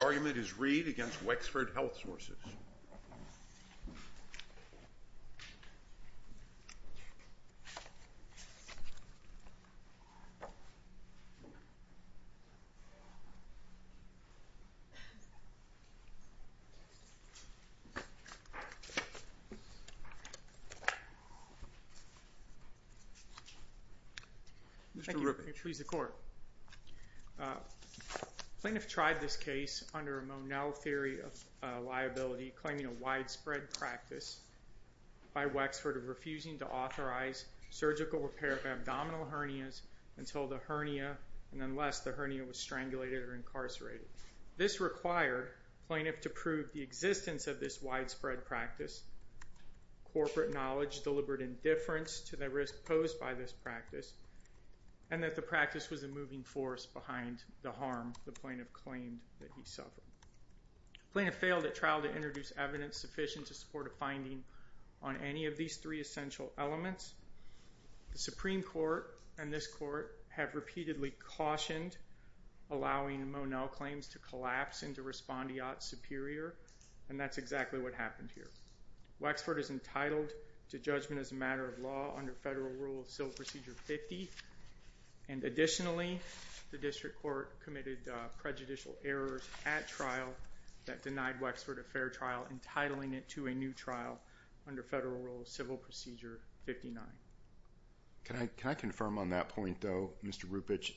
The argument is Reed v. Wexford Health Sources. Mr. Rubin. Mr. Wexford, if you please the court. Plaintiff tried this case under a Monell theory of liability, claiming a widespread practice by Wexford of refusing to authorize surgical repair of abdominal hernias until the hernia, and unless the hernia was strangulated or incarcerated. This required plaintiff to prove the existence of this widespread practice, corporate knowledge, deliberate indifference to the risk posed by this practice, and that the practice was a moving force behind the harm the plaintiff claimed that he suffered. Plaintiff failed at trial to introduce evidence sufficient to support a finding on any of these three essential elements. The Supreme Court and this court have repeatedly cautioned allowing Monell claims to collapse into respondeat superior, and that's exactly what happened here. Wexford is entitled to judgment as a matter of law under Federal Rule of Civil Procedure 50, and additionally, the district court committed prejudicial errors at trial that denied Wexford a fair trial, entitling it to a new trial under Federal Rule of Civil Procedure 59. Can I confirm on that point, though, Mr. Rupich,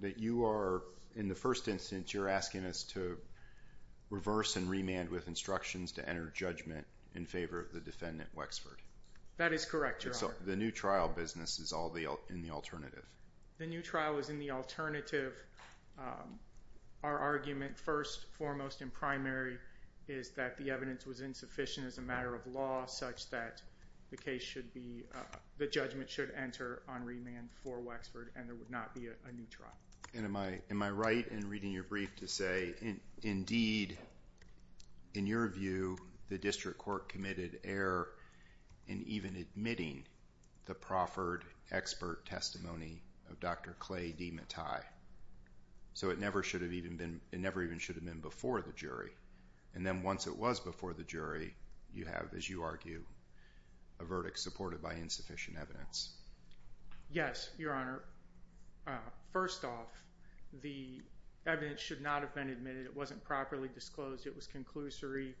that you are, in the first instance, you're asking us to reverse and remand with instructions to enter judgment in favor of the defendant Wexford? That is correct, Your Honor. So the new trial business is all in the alternative? Our argument, first and foremost in primary, is that the evidence was insufficient as a matter of law, such that the case should be, the judgment should enter on remand for Wexford, and there would not be a new trial. And am I right in reading your brief to say, indeed, in your view, the district court committed error in even admitting the proffered expert testimony of Dr. Clay D. Mattai? So it never should have even been, it never even should have been before the jury. And then once it was before the jury, you have, as you argue, a verdict supported by insufficient evidence. Yes, Your Honor. First off, the evidence should not have been admitted. It wasn't properly disclosed. It was conclusory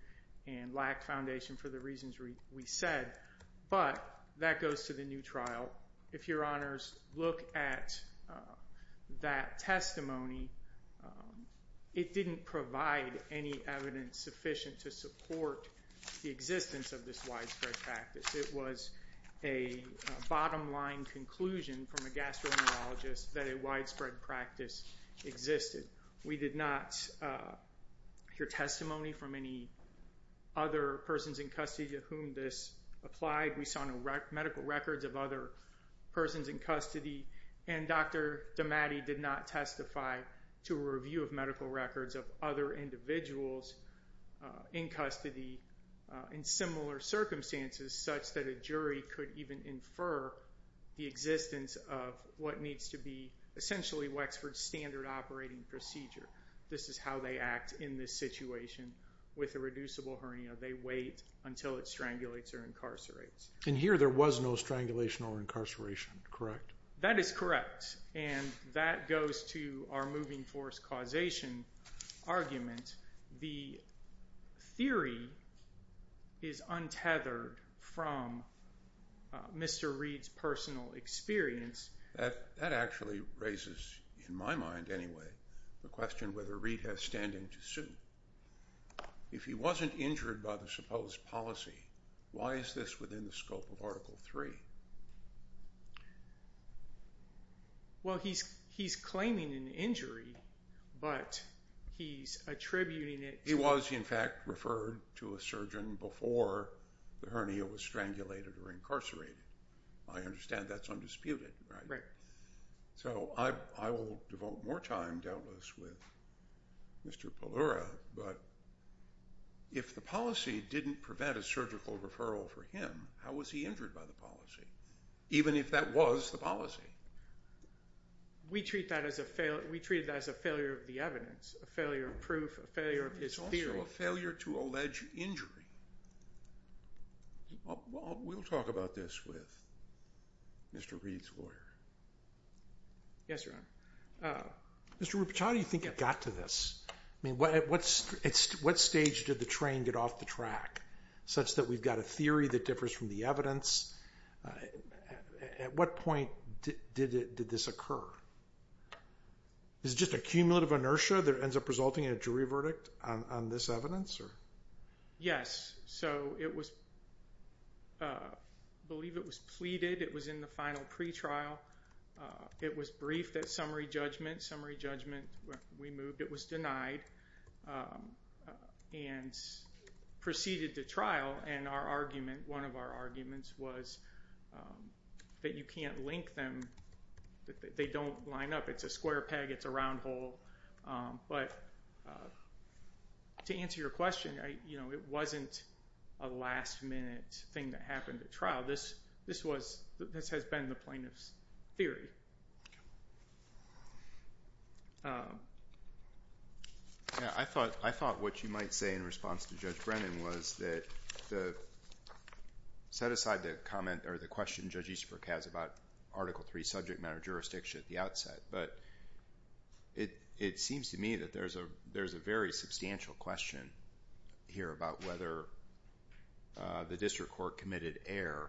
and lacked foundation for the reasons we said. But that goes to the new trial. If Your Honors look at that testimony, it didn't provide any evidence sufficient to support the existence of this widespread practice. It was a bottom line conclusion from a gastroenterologist that a widespread practice existed. We did not hear testimony from any other persons in custody to whom this applied. We saw no medical records of other persons in custody. And Dr. D. Mattai did not testify to a review of medical records of other individuals in custody in similar circumstances such that a jury could even infer the existence of what needs to be essentially Wexford standard operating procedure. This is how they act in this situation with a reducible hernia. They wait until it strangulates or incarcerates. And here there was no strangulation or incarceration, correct? That is correct. And that goes to our moving force causation argument. The theory is untethered from Mr. Reid's personal experience. That actually raises, in my mind anyway, the question whether Reid has standing to sue. If he wasn't injured by the supposed policy, why is this within the scope of Article 3? Well, he's claiming an injury, but he's attributing it to... He was, in fact, referred to a surgeon before the hernia was strangulated or incarcerated. I understand that's undisputed, right? Right. So I will devote more time, doubtless, with Mr. Pallura, but if the policy didn't prevent a surgical referral for him, how was he injured by the policy, even if that was the policy? We treated that as a failure of the evidence, a failure of proof, a failure of his theory. It's also a failure to allege injury. Well, we'll talk about this with Mr. Reid's lawyer. Yes, Your Honor. Mr. Rupich, how do you think it got to this? I mean, at what stage did the train get off the track, such that we've got a theory that differs from the evidence? At what point did this occur? Is it just a cumulative inertia that ends up resulting in a jury verdict on this evidence? Yes. So I believe it was pleaded. It was in the final pretrial. It was briefed at summary judgment. Summary judgment, we moved. It was denied and proceeded to trial. And our argument, one of our arguments, was that you can't link them, that they don't line up. It's a square peg. It's a round hole. But to answer your question, it wasn't a last-minute thing that happened at trial. This has been the plaintiff's theory. I thought what you might say in response to Judge Brennan was that set aside the comment or the question Judge Easterbrook has about Article III subject matter jurisdiction at the outset. But it seems to me that there's a very substantial question here about whether the district court committed error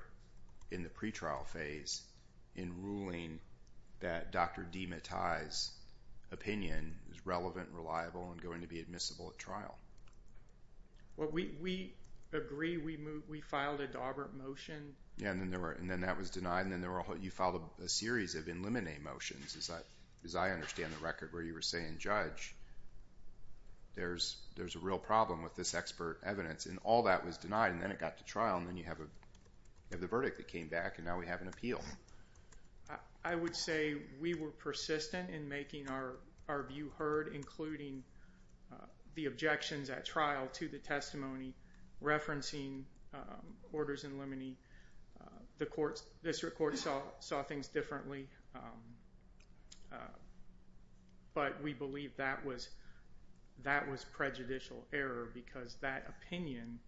in the pretrial phase in ruling that Dr. DeMattei's opinion is relevant, reliable, and going to be admissible at trial. Well, we agree we filed a dauber motion. Yeah, and then that was denied. And then you filed a series of in limine motions. As I understand the record where you were saying, Judge, there's a real problem with this expert evidence. And all that was denied. And then it got to trial. And then you have the verdict that came back. And now we have an appeal. I would say we were persistent in making our view heard, including the objections at trial to the testimony referencing orders in limine. The district court saw things differently. But we believe that was prejudicial error because that opinion,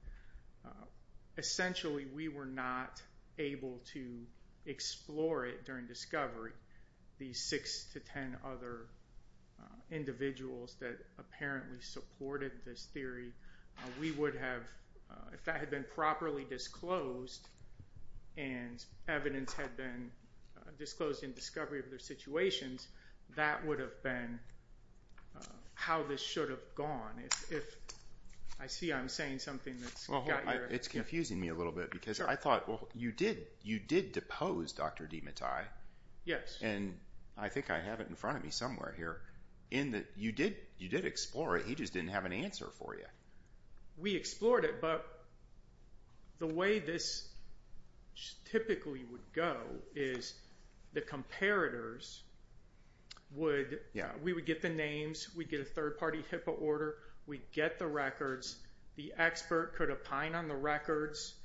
essentially, we were not able to explore it during discovery. These six to ten other individuals that apparently supported this theory, we would have, if that had been properly disclosed, and evidence had been disclosed in discovery of their situations, that would have been how this should have gone. I see I'm saying something that's got your... It's confusing me a little bit because I thought, well, you did depose Dr. DeMattei. Yes. And I think I have it in front of me somewhere here. You did explore it. He just didn't have an answer for you. We explored it. The way this typically would go is the comparators would... We would get the names. We'd get a third-party HIPAA order. We'd get the records. The expert could opine on the records.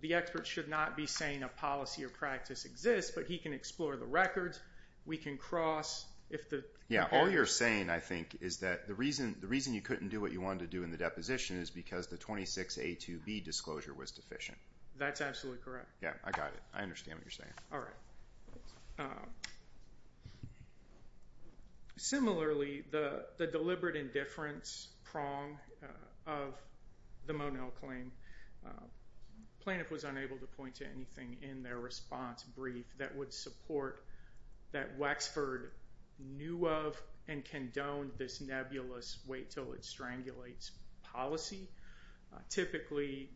The expert should not be saying a policy or practice exists, but he can explore the records. We can cross if the... Yeah, all you're saying, I think, is that the reason you couldn't do what you wanted to do in the deposition is because the 26A2B disclosure was deficient. That's absolutely correct. Yeah, I got it. I understand what you're saying. All right. Similarly, the deliberate indifference prong of the Monell claim, plaintiff was unable to point to anything in their response brief that would support that Wexford knew of and condoned this nebulous wait till it strangulates policy. Typically,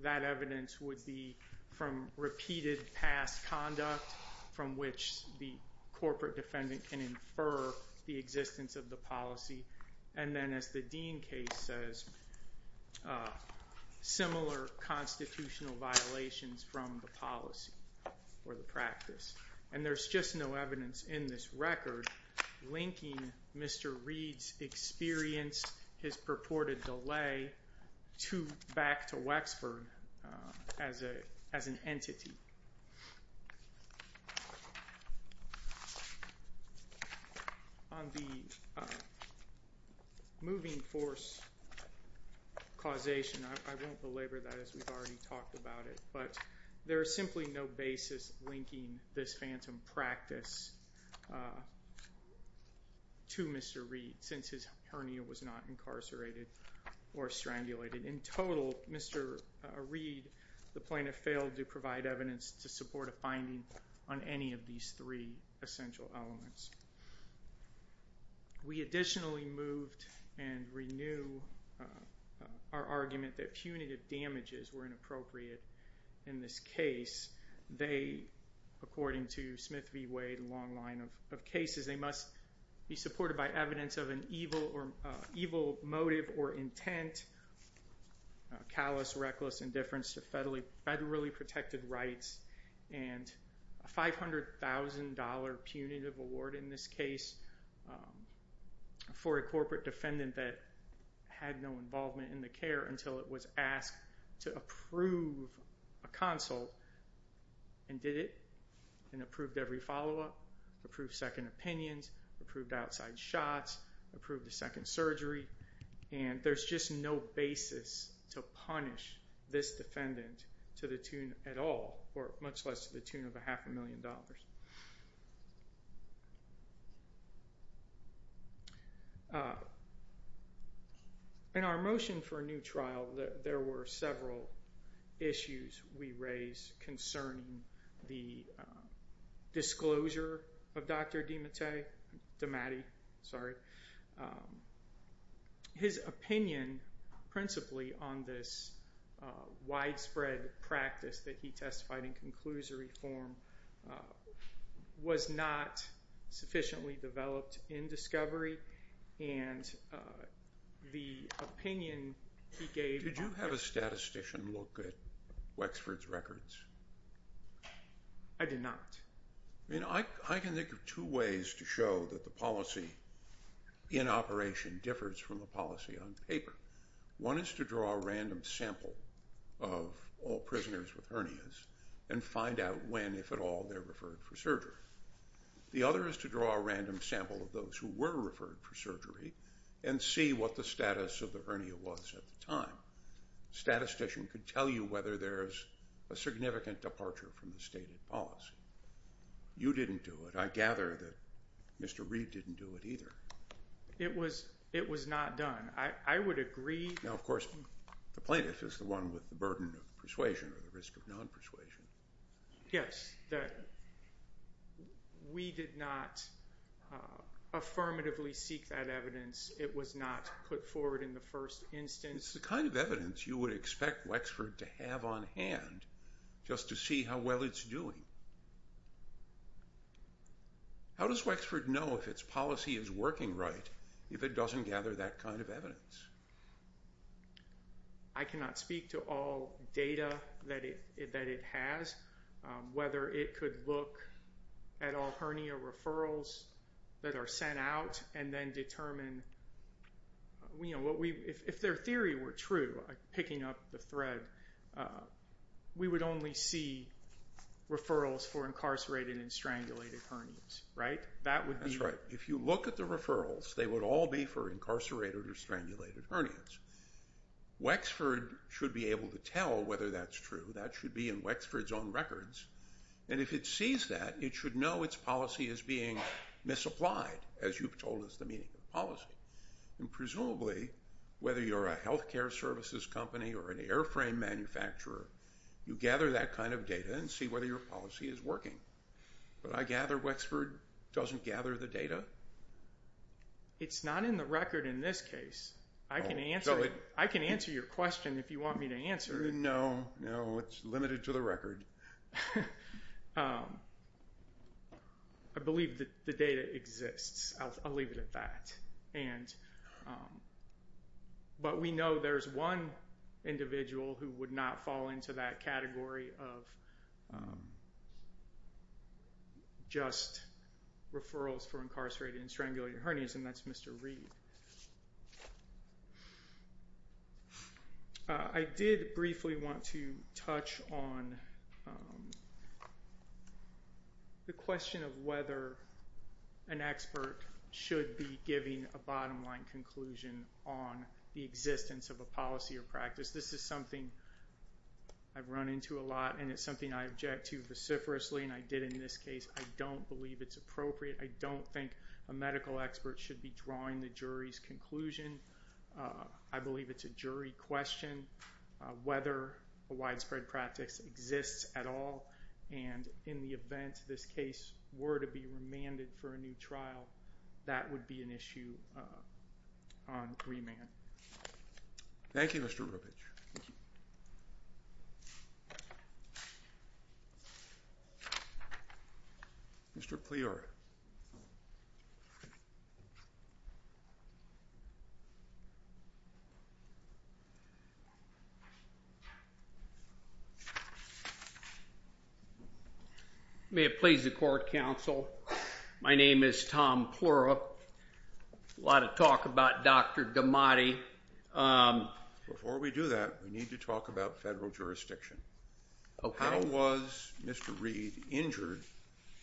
that evidence would be from repeated past conduct from which the corporate defendant can infer the existence of the policy, and then, as the Dean case says, similar constitutional violations from the policy or the practice. And there's just no evidence in this record linking Mr. Reed's experience, his purported delay back to Wexford as an entity. On the moving force causation, I won't belabor that as we've already talked about it, but there is simply no basis linking this phantom practice to Mr. Reed since his hernia was not incarcerated or strangulated. In total, Mr. Reed, the plaintiff failed to provide evidence to support a finding on any of these three essential elements. We additionally moved and renewed our argument that punitive damages were inappropriate in this case. They, according to Smith v. Wade, a long line of cases, they must be supported by evidence of an evil motive or intent, callous, reckless indifference to federally protected rights, and a $500,000 punitive award in this case for a corporate defendant that had no involvement in the care until it was asked to approve a consult and did it, and approved every follow-up, approved second opinions, approved outside shots, approved a second surgery. And there's just no basis to punish this defendant to the tune at all, or much less to the tune of a half a million dollars. In our motion for a new trial, there were several issues we raised concerning the disclosure of Dr. DeMattei. His opinion principally on this widespread practice that he testified in conclusory form was not sufficiently developed in discovery, and the opinion he gave- Did you have a statistician look at Wexford's records? I did not. I mean, I can think of two ways to show that the policy in operation differs from the policy on paper. One is to draw a random sample of all prisoners with hernias and find out when, if at all, they're referred for surgery. The other is to draw a random sample of those who were referred for surgery and see what the status of the hernia was at the time. A statistician could tell you whether there's a significant departure from the stated policy. You didn't do it. I gather that Mr. Reed didn't do it either. It was not done. I would agree- Now, of course, the plaintiff is the one with the burden of persuasion or the risk of non-persuasion. Yes. We did not affirmatively seek that evidence. It was not put forward in the first instance. It's the kind of evidence you would expect Wexford to have on hand just to see how well it's doing. How does Wexford know if its policy is working right if it doesn't gather that kind of evidence? I cannot speak to all data that it has, whether it could look at all hernia referrals that are sent out and then determine- If their theory were true, picking up the thread, we would only see referrals for incarcerated and strangulated hernias, right? That's right. If you look at the referrals, they would all be for incarcerated or strangulated hernias. Wexford should be able to tell whether that's true. That should be in Wexford's own records. If it sees that, it should know its policy is being misapplied, as you've told us the meaning of policy. Presumably, whether you're a healthcare services company or an airframe manufacturer, you gather that kind of data and see whether your policy is working. But I gather Wexford doesn't gather the data? It's not in the record in this case. I can answer your question if you want me to answer it. No, no. It's limited to the record. I believe the data exists. I'll leave it at that. But we know there's one individual who would not fall into that category of just referrals for incarcerated and strangulated hernias, and that's Mr. Reed. I did briefly want to touch on the question of whether an expert should be giving a bottom line conclusion on the existence of a policy or practice. This is something I've run into a lot, and it's something I object to vociferously, and I did in this case. I don't believe it's appropriate. I don't think a medical expert should be drawing the jury's conclusion. I believe it's a jury question whether a widespread practice exists at all, and in the event this case were to be remanded for a new trial, that would be an issue on remand. Thank you, Mr. Rubich. Mr. Pleura. May it please the court, counsel. My name is Tom Pleura. A lot of talk about Dr. Gamati. Before we do that, we need to talk about federal jurisdiction. How was Mr. Reed injured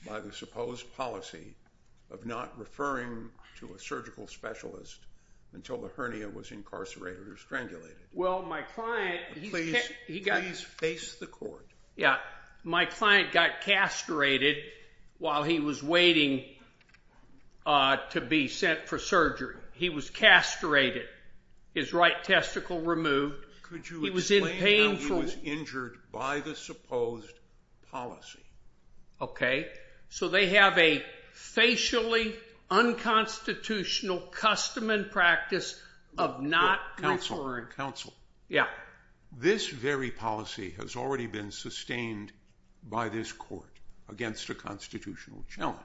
by the supposed policy of not referring to a surgical specialist until the hernia was incarcerated or strangulated? Please face the court. My client got castrated while he was waiting to be sent for surgery. He was castrated, his right testicle removed. Could you explain how he was injured by the supposed policy? Okay. So they have a facially unconstitutional custom and practice of not referring. Counsel. Yeah. This very policy has already been sustained by this court against a constitutional challenge.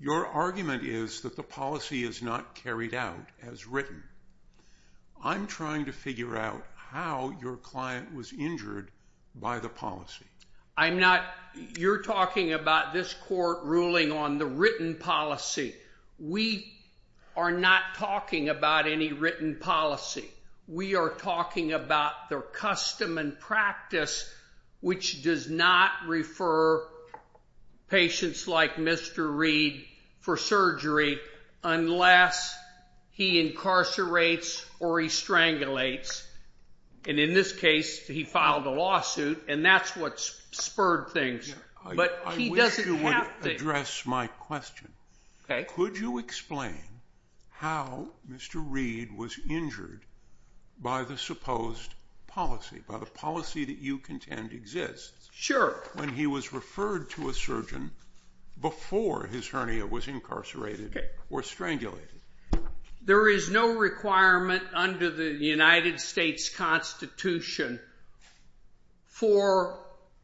Your argument is that the policy is not carried out as written. I'm trying to figure out how your client was injured by the policy. I'm not. You're talking about this court ruling on the written policy. We are not talking about any written policy. We are talking about their custom and practice, which does not refer patients like Mr. Reed for surgery unless he incarcerates or he strangulates. And in this case, he filed a lawsuit, and that's what spurred things. But he doesn't have to. I wish you would address my question. Okay. Could you explain how Mr. Reed was injured by the supposed policy, by the policy that you contend exists? Sure. When he was referred to a surgeon before his hernia was incarcerated or strangulated. There is no requirement under the United States Constitution for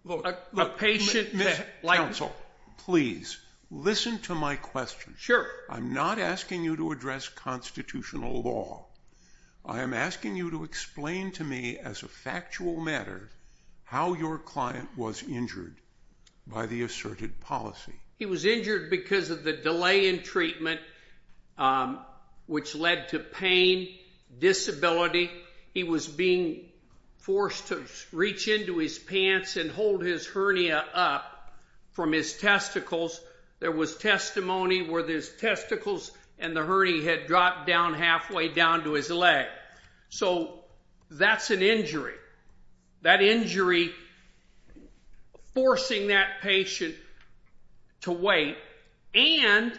a patient that, like— Counsel, please, listen to my question. Sure. I'm not asking you to address constitutional law. I am asking you to explain to me as a factual matter how your client was injured by the asserted policy. He was injured because of the delay in treatment, which led to pain, disability. He was being forced to reach into his pants and hold his hernia up from his testicles. There was testimony where his testicles and the hernia had dropped down halfway down to his leg. So that's an injury, that injury forcing that patient to wait. And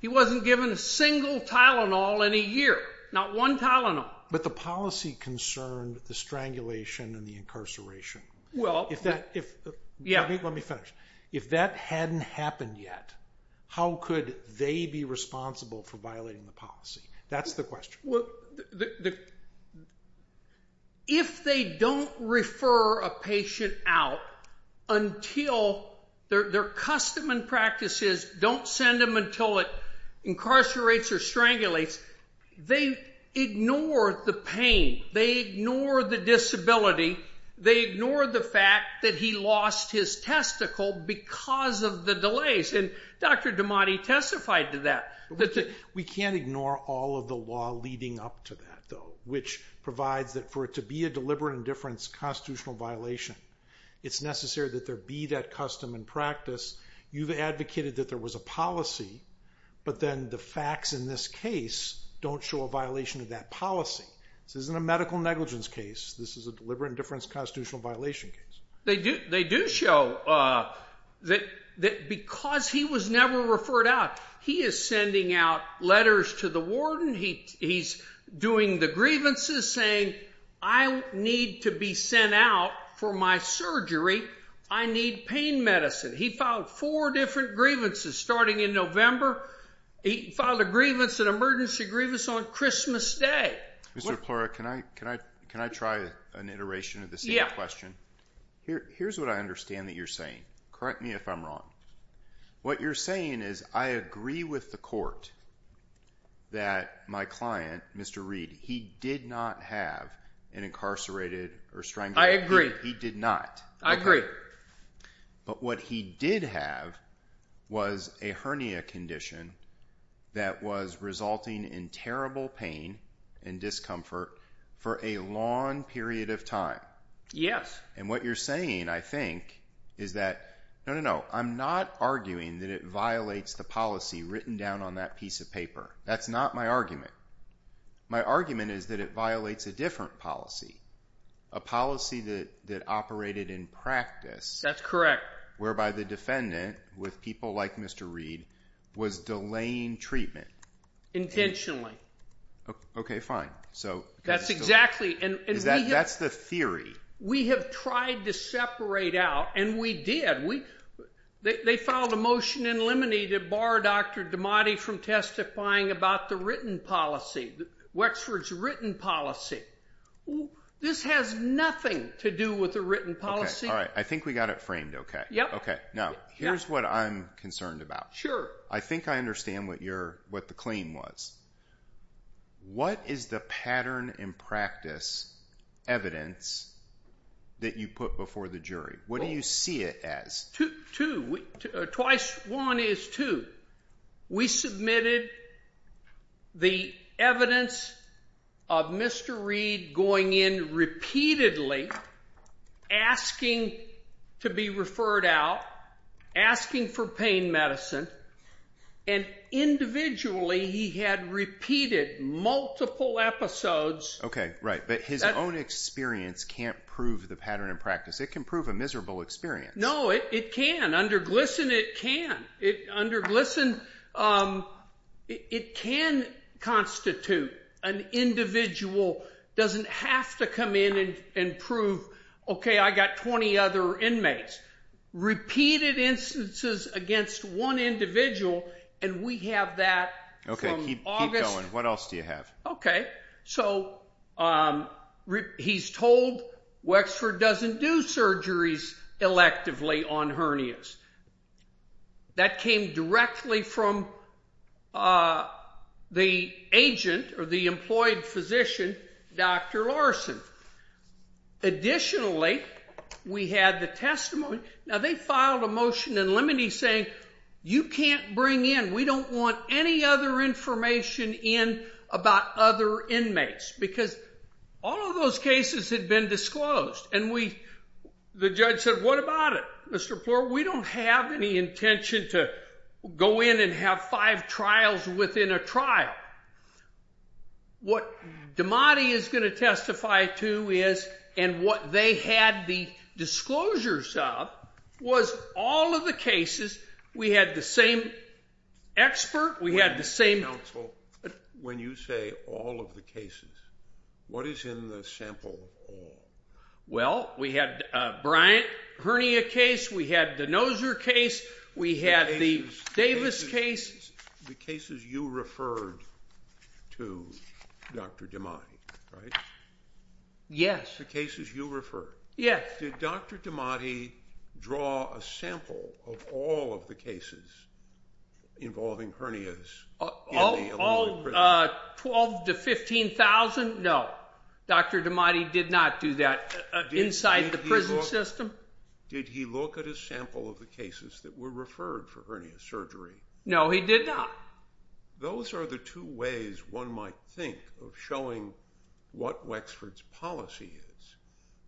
he wasn't given a single Tylenol in a year, not one Tylenol. But the policy concerned the strangulation and the incarceration. Well— Let me finish. If that hadn't happened yet, how could they be responsible for violating the policy? That's the question. If they don't refer a patient out until their custom and practices don't send them until it incarcerates or strangulates, they ignore the pain. They ignore the disability. They ignore the fact that he lost his testicle because of the delays. And Dr. Damati testified to that. We can't ignore all of the law leading up to that, though, which provides that for it to be a deliberate indifference constitutional violation, it's necessary that there be that custom and practice. You've advocated that there was a policy, but then the facts in this case don't show a violation of that policy. This isn't a medical negligence case. This is a deliberate indifference constitutional violation case. They do show that because he was never referred out, he is sending out letters to the warden. He's doing the grievances, saying, I need to be sent out for my surgery. I need pain medicine. He filed four different grievances starting in November. He filed a grievance, an emergency grievance, on Christmas Day. Mr. Plura, can I try an iteration of the same question? Yeah. Here's what I understand that you're saying. Correct me if I'm wrong. What you're saying is, I agree with the court that my client, Mr. Reed, he did not have an incarcerated or strangled kid. I agree. He did not. I agree. But what he did have was a hernia condition that was resulting in terrible pain and discomfort for a long period of time. Yes. And what you're saying, I think, is that, no, no, no. I'm not arguing that it violates the policy written down on that piece of paper. That's not my argument. My argument is that it violates a different policy. A policy that operated in practice. That's correct. Whereby the defendant, with people like Mr. Reed, was delaying treatment. Intentionally. Okay, fine. That's exactly. That's the theory. We have tried to separate out, and we did. They filed a motion in limine to bar Dr. Damati from testifying about the written policy. Wexford's written policy. This has nothing to do with the written policy. All right. I think we got it framed okay. Yep. Okay. Now, here's what I'm concerned about. Sure. I think I understand what the claim was. What is the pattern in practice evidence that you put before the jury? What do you see it as? Twice one is two. We submitted the evidence of Mr. Reed going in repeatedly, asking to be referred out, asking for pain medicine, and individually he had repeated multiple episodes. Okay, right. But his own experience can't prove the pattern in practice. It can prove a miserable experience. No, it can. Under GLSEN, it can. Under GLSEN, it can constitute an individual doesn't have to come in and prove, okay, I got 20 other inmates. Repeated instances against one individual, and we have that from August. Okay, keep going. What else do you have? Okay. So he's told Wexford doesn't do surgeries electively on hernias. That came directly from the agent or the employed physician, Dr. Larson. Additionally, we had the testimony. Now, they filed a motion in limine saying you can't bring in, we don't want any other information in about other inmates because all of those cases had been disclosed, and the judge said what about it? Mr. Plour, we don't have any intention to go in and have five trials within a trial. What Damati is going to testify to is and what they had the disclosures of was all of the cases. We had the same expert. We had the same counsel. When you say all of the cases, what is in the sample of all? Well, we had Bryant hernia case. We had the Noser case. We had the Davis case. The cases you referred to Dr. Damati, right? Yes. The cases you referred. Yes. Did Dr. Damati draw a sample of all of the cases involving hernias? All 12,000 to 15,000? No. Dr. Damati did not do that inside the prison system. Did he look at a sample of the cases that were referred for hernia surgery? No, he did not. Those are the two ways one might think of showing what Wexford's policy is.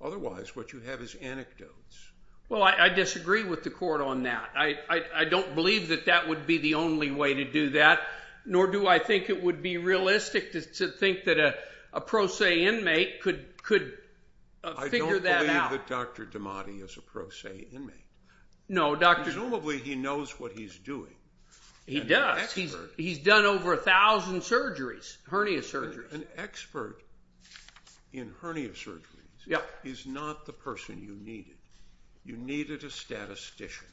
Otherwise, what you have is anecdotes. Well, I disagree with the court on that. I don't believe that that would be the only way to do that, nor do I think it would be realistic to think that a pro se inmate could figure that out. I don't believe that Dr. Damati is a pro se inmate. No, Dr. Presumably he knows what he's doing. He does. He's done over 1,000 surgeries, hernia surgeries. An expert in hernia surgeries is not the person you needed. You needed a statistician.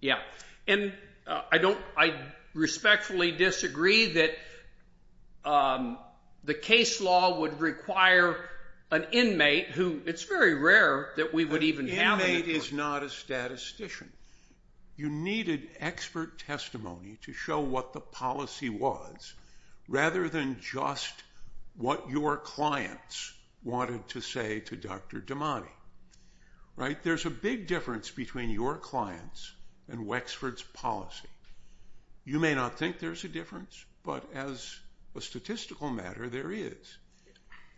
Yeah. And I respectfully disagree that the case law would require an inmate, who it's very rare that we would even have an expert. He is not a statistician. You needed expert testimony to show what the policy was, rather than just what your clients wanted to say to Dr. Damati. There's a big difference between your clients and Wexford's policy. You may not think there's a difference, but as a statistical matter, there is.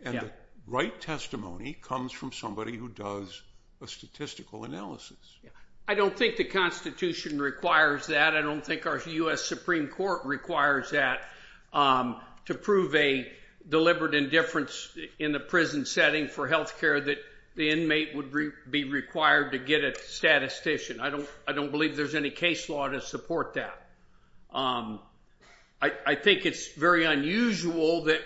And the right testimony comes from somebody who does a statistical analysis. I don't think the Constitution requires that. I don't think our U.S. Supreme Court requires that to prove a deliberate indifference in the prison setting for health care that the inmate would be required to get a statistician. I don't believe there's any case law to support that. I think it's very unusual that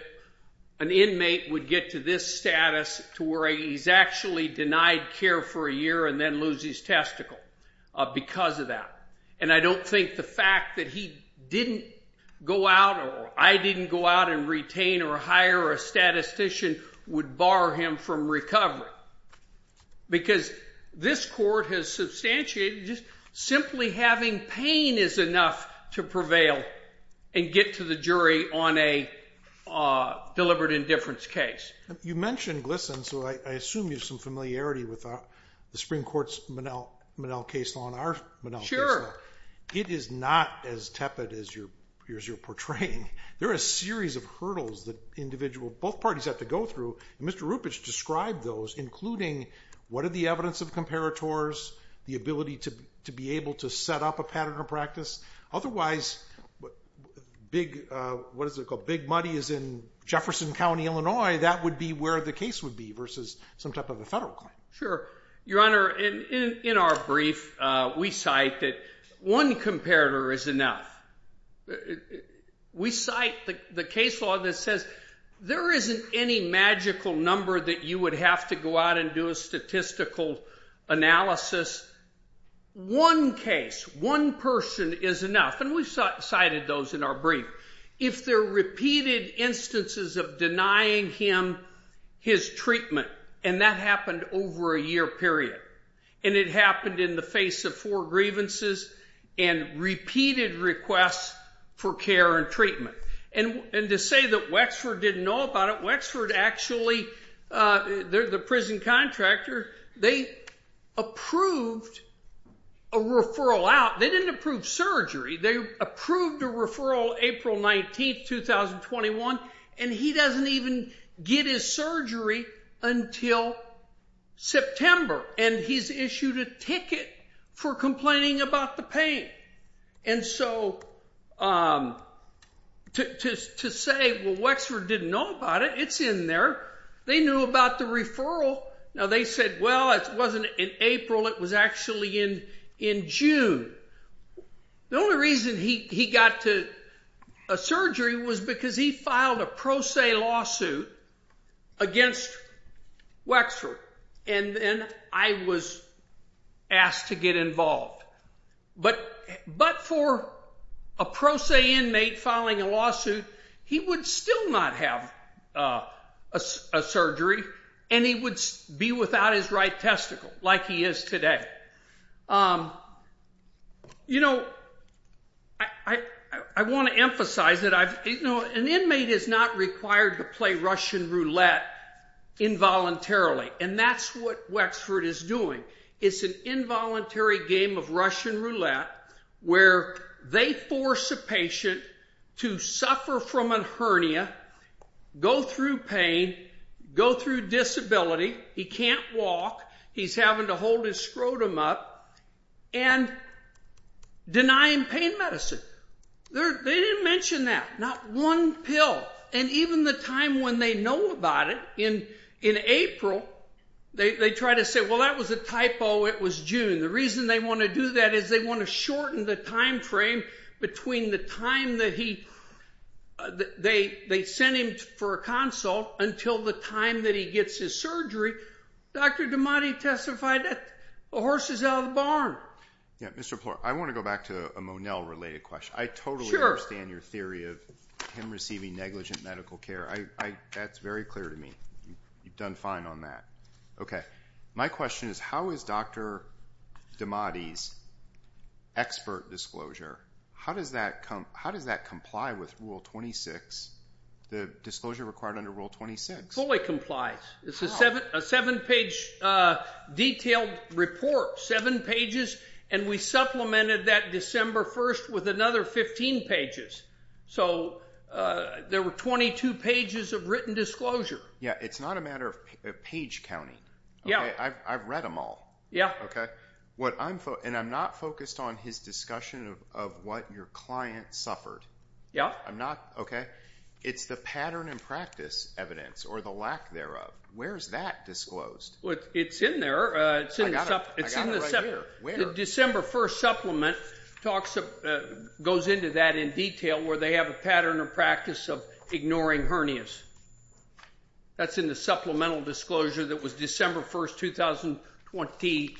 an inmate would get to this status, to where he's actually denied care for a year and then loses testicle because of that. And I don't think the fact that he didn't go out, or I didn't go out and retain or hire a statistician, would bar him from recovery. Because this court has substantiated just simply having pain is enough to prevail and get to the jury on a deliberate indifference case. You mentioned GLSEN, so I assume you have some familiarity with the Supreme Court's Minnell case law and our Minnell case law. It is not as tepid as you're portraying. There are a series of hurdles that both parties have to go through, and Mr. Rupich described those, including what are the evidence of comparators, the ability to be able to set up a pattern of practice. Otherwise, Big Muddy is in Jefferson County, Illinois. That would be where the case would be versus some type of a federal claim. Sure. Your Honor, in our brief, we cite that one comparator is enough. We cite the case law that says there isn't any magical number that you would have to go out and do a statistical analysis. One case, one person is enough, and we've cited those in our brief. If there are repeated instances of denying him his treatment, and that happened over a year period, and it happened in the face of four grievances and repeated requests for care and treatment, and to say that Wexford didn't know about it, Wexford actually, the prison contractor, they approved a referral out. They didn't approve surgery. They approved a referral April 19th, 2021, and he doesn't even get his surgery until September, and he's issued a ticket for complaining about the pain. And so to say, well, Wexford didn't know about it, it's in there. They knew about the referral. Now, they said, well, it wasn't in April. It was actually in June. The only reason he got a surgery was because he filed a pro se lawsuit against Wexford, and then I was asked to get involved. But for a pro se inmate filing a lawsuit, he would still not have a surgery, and he would be without his right testicle like he is today. You know, I want to emphasize that an inmate is not required to play Russian roulette involuntarily, and that's what Wexford is doing. It's an involuntary game of Russian roulette where they force a patient to suffer from a hernia, go through pain, go through disability. He can't walk. He's having to hold his scrotum up and denying pain medicine. They didn't mention that, not one pill. And even the time when they know about it, in April, they try to say, well, that was a typo. It was June. The reason they want to do that is they want to shorten the time frame between the time that they sent him for a consult until the time that he gets his surgery. Dr. Damati testified that the horse is out of the barn. Yeah, Mr. Plour, I want to go back to a Monell-related question. I totally understand your theory of him receiving negligent medical care. That's very clear to me. You've done fine on that. Okay, my question is how is Dr. Damati's expert disclosure, how does that comply with Rule 26, the disclosure required under Rule 26? It fully complies. It's a seven-page detailed report, seven pages, and we supplemented that December 1st with another 15 pages. So there were 22 pages of written disclosure. Yeah, it's not a matter of page counting. I've read them all. Yeah. And I'm not focused on his discussion of what your client suffered. Yeah. I'm not. Okay. It's the pattern and practice evidence or the lack thereof. Where is that disclosed? It's in there. I got it right here. Where? The December 1st supplement goes into that in detail where they have a pattern or practice of ignoring hernias. That's in the supplemental disclosure that was December 1st, 2020.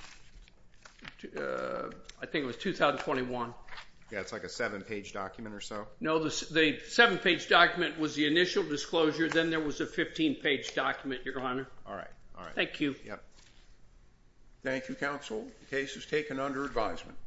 I think it was 2021. Yeah, it's like a seven-page document or so? No, the seven-page document was the initial disclosure. Then there was a 15-page document, Your Honor. All right. Thank you. Thank you, counsel. The case is taken under advisement.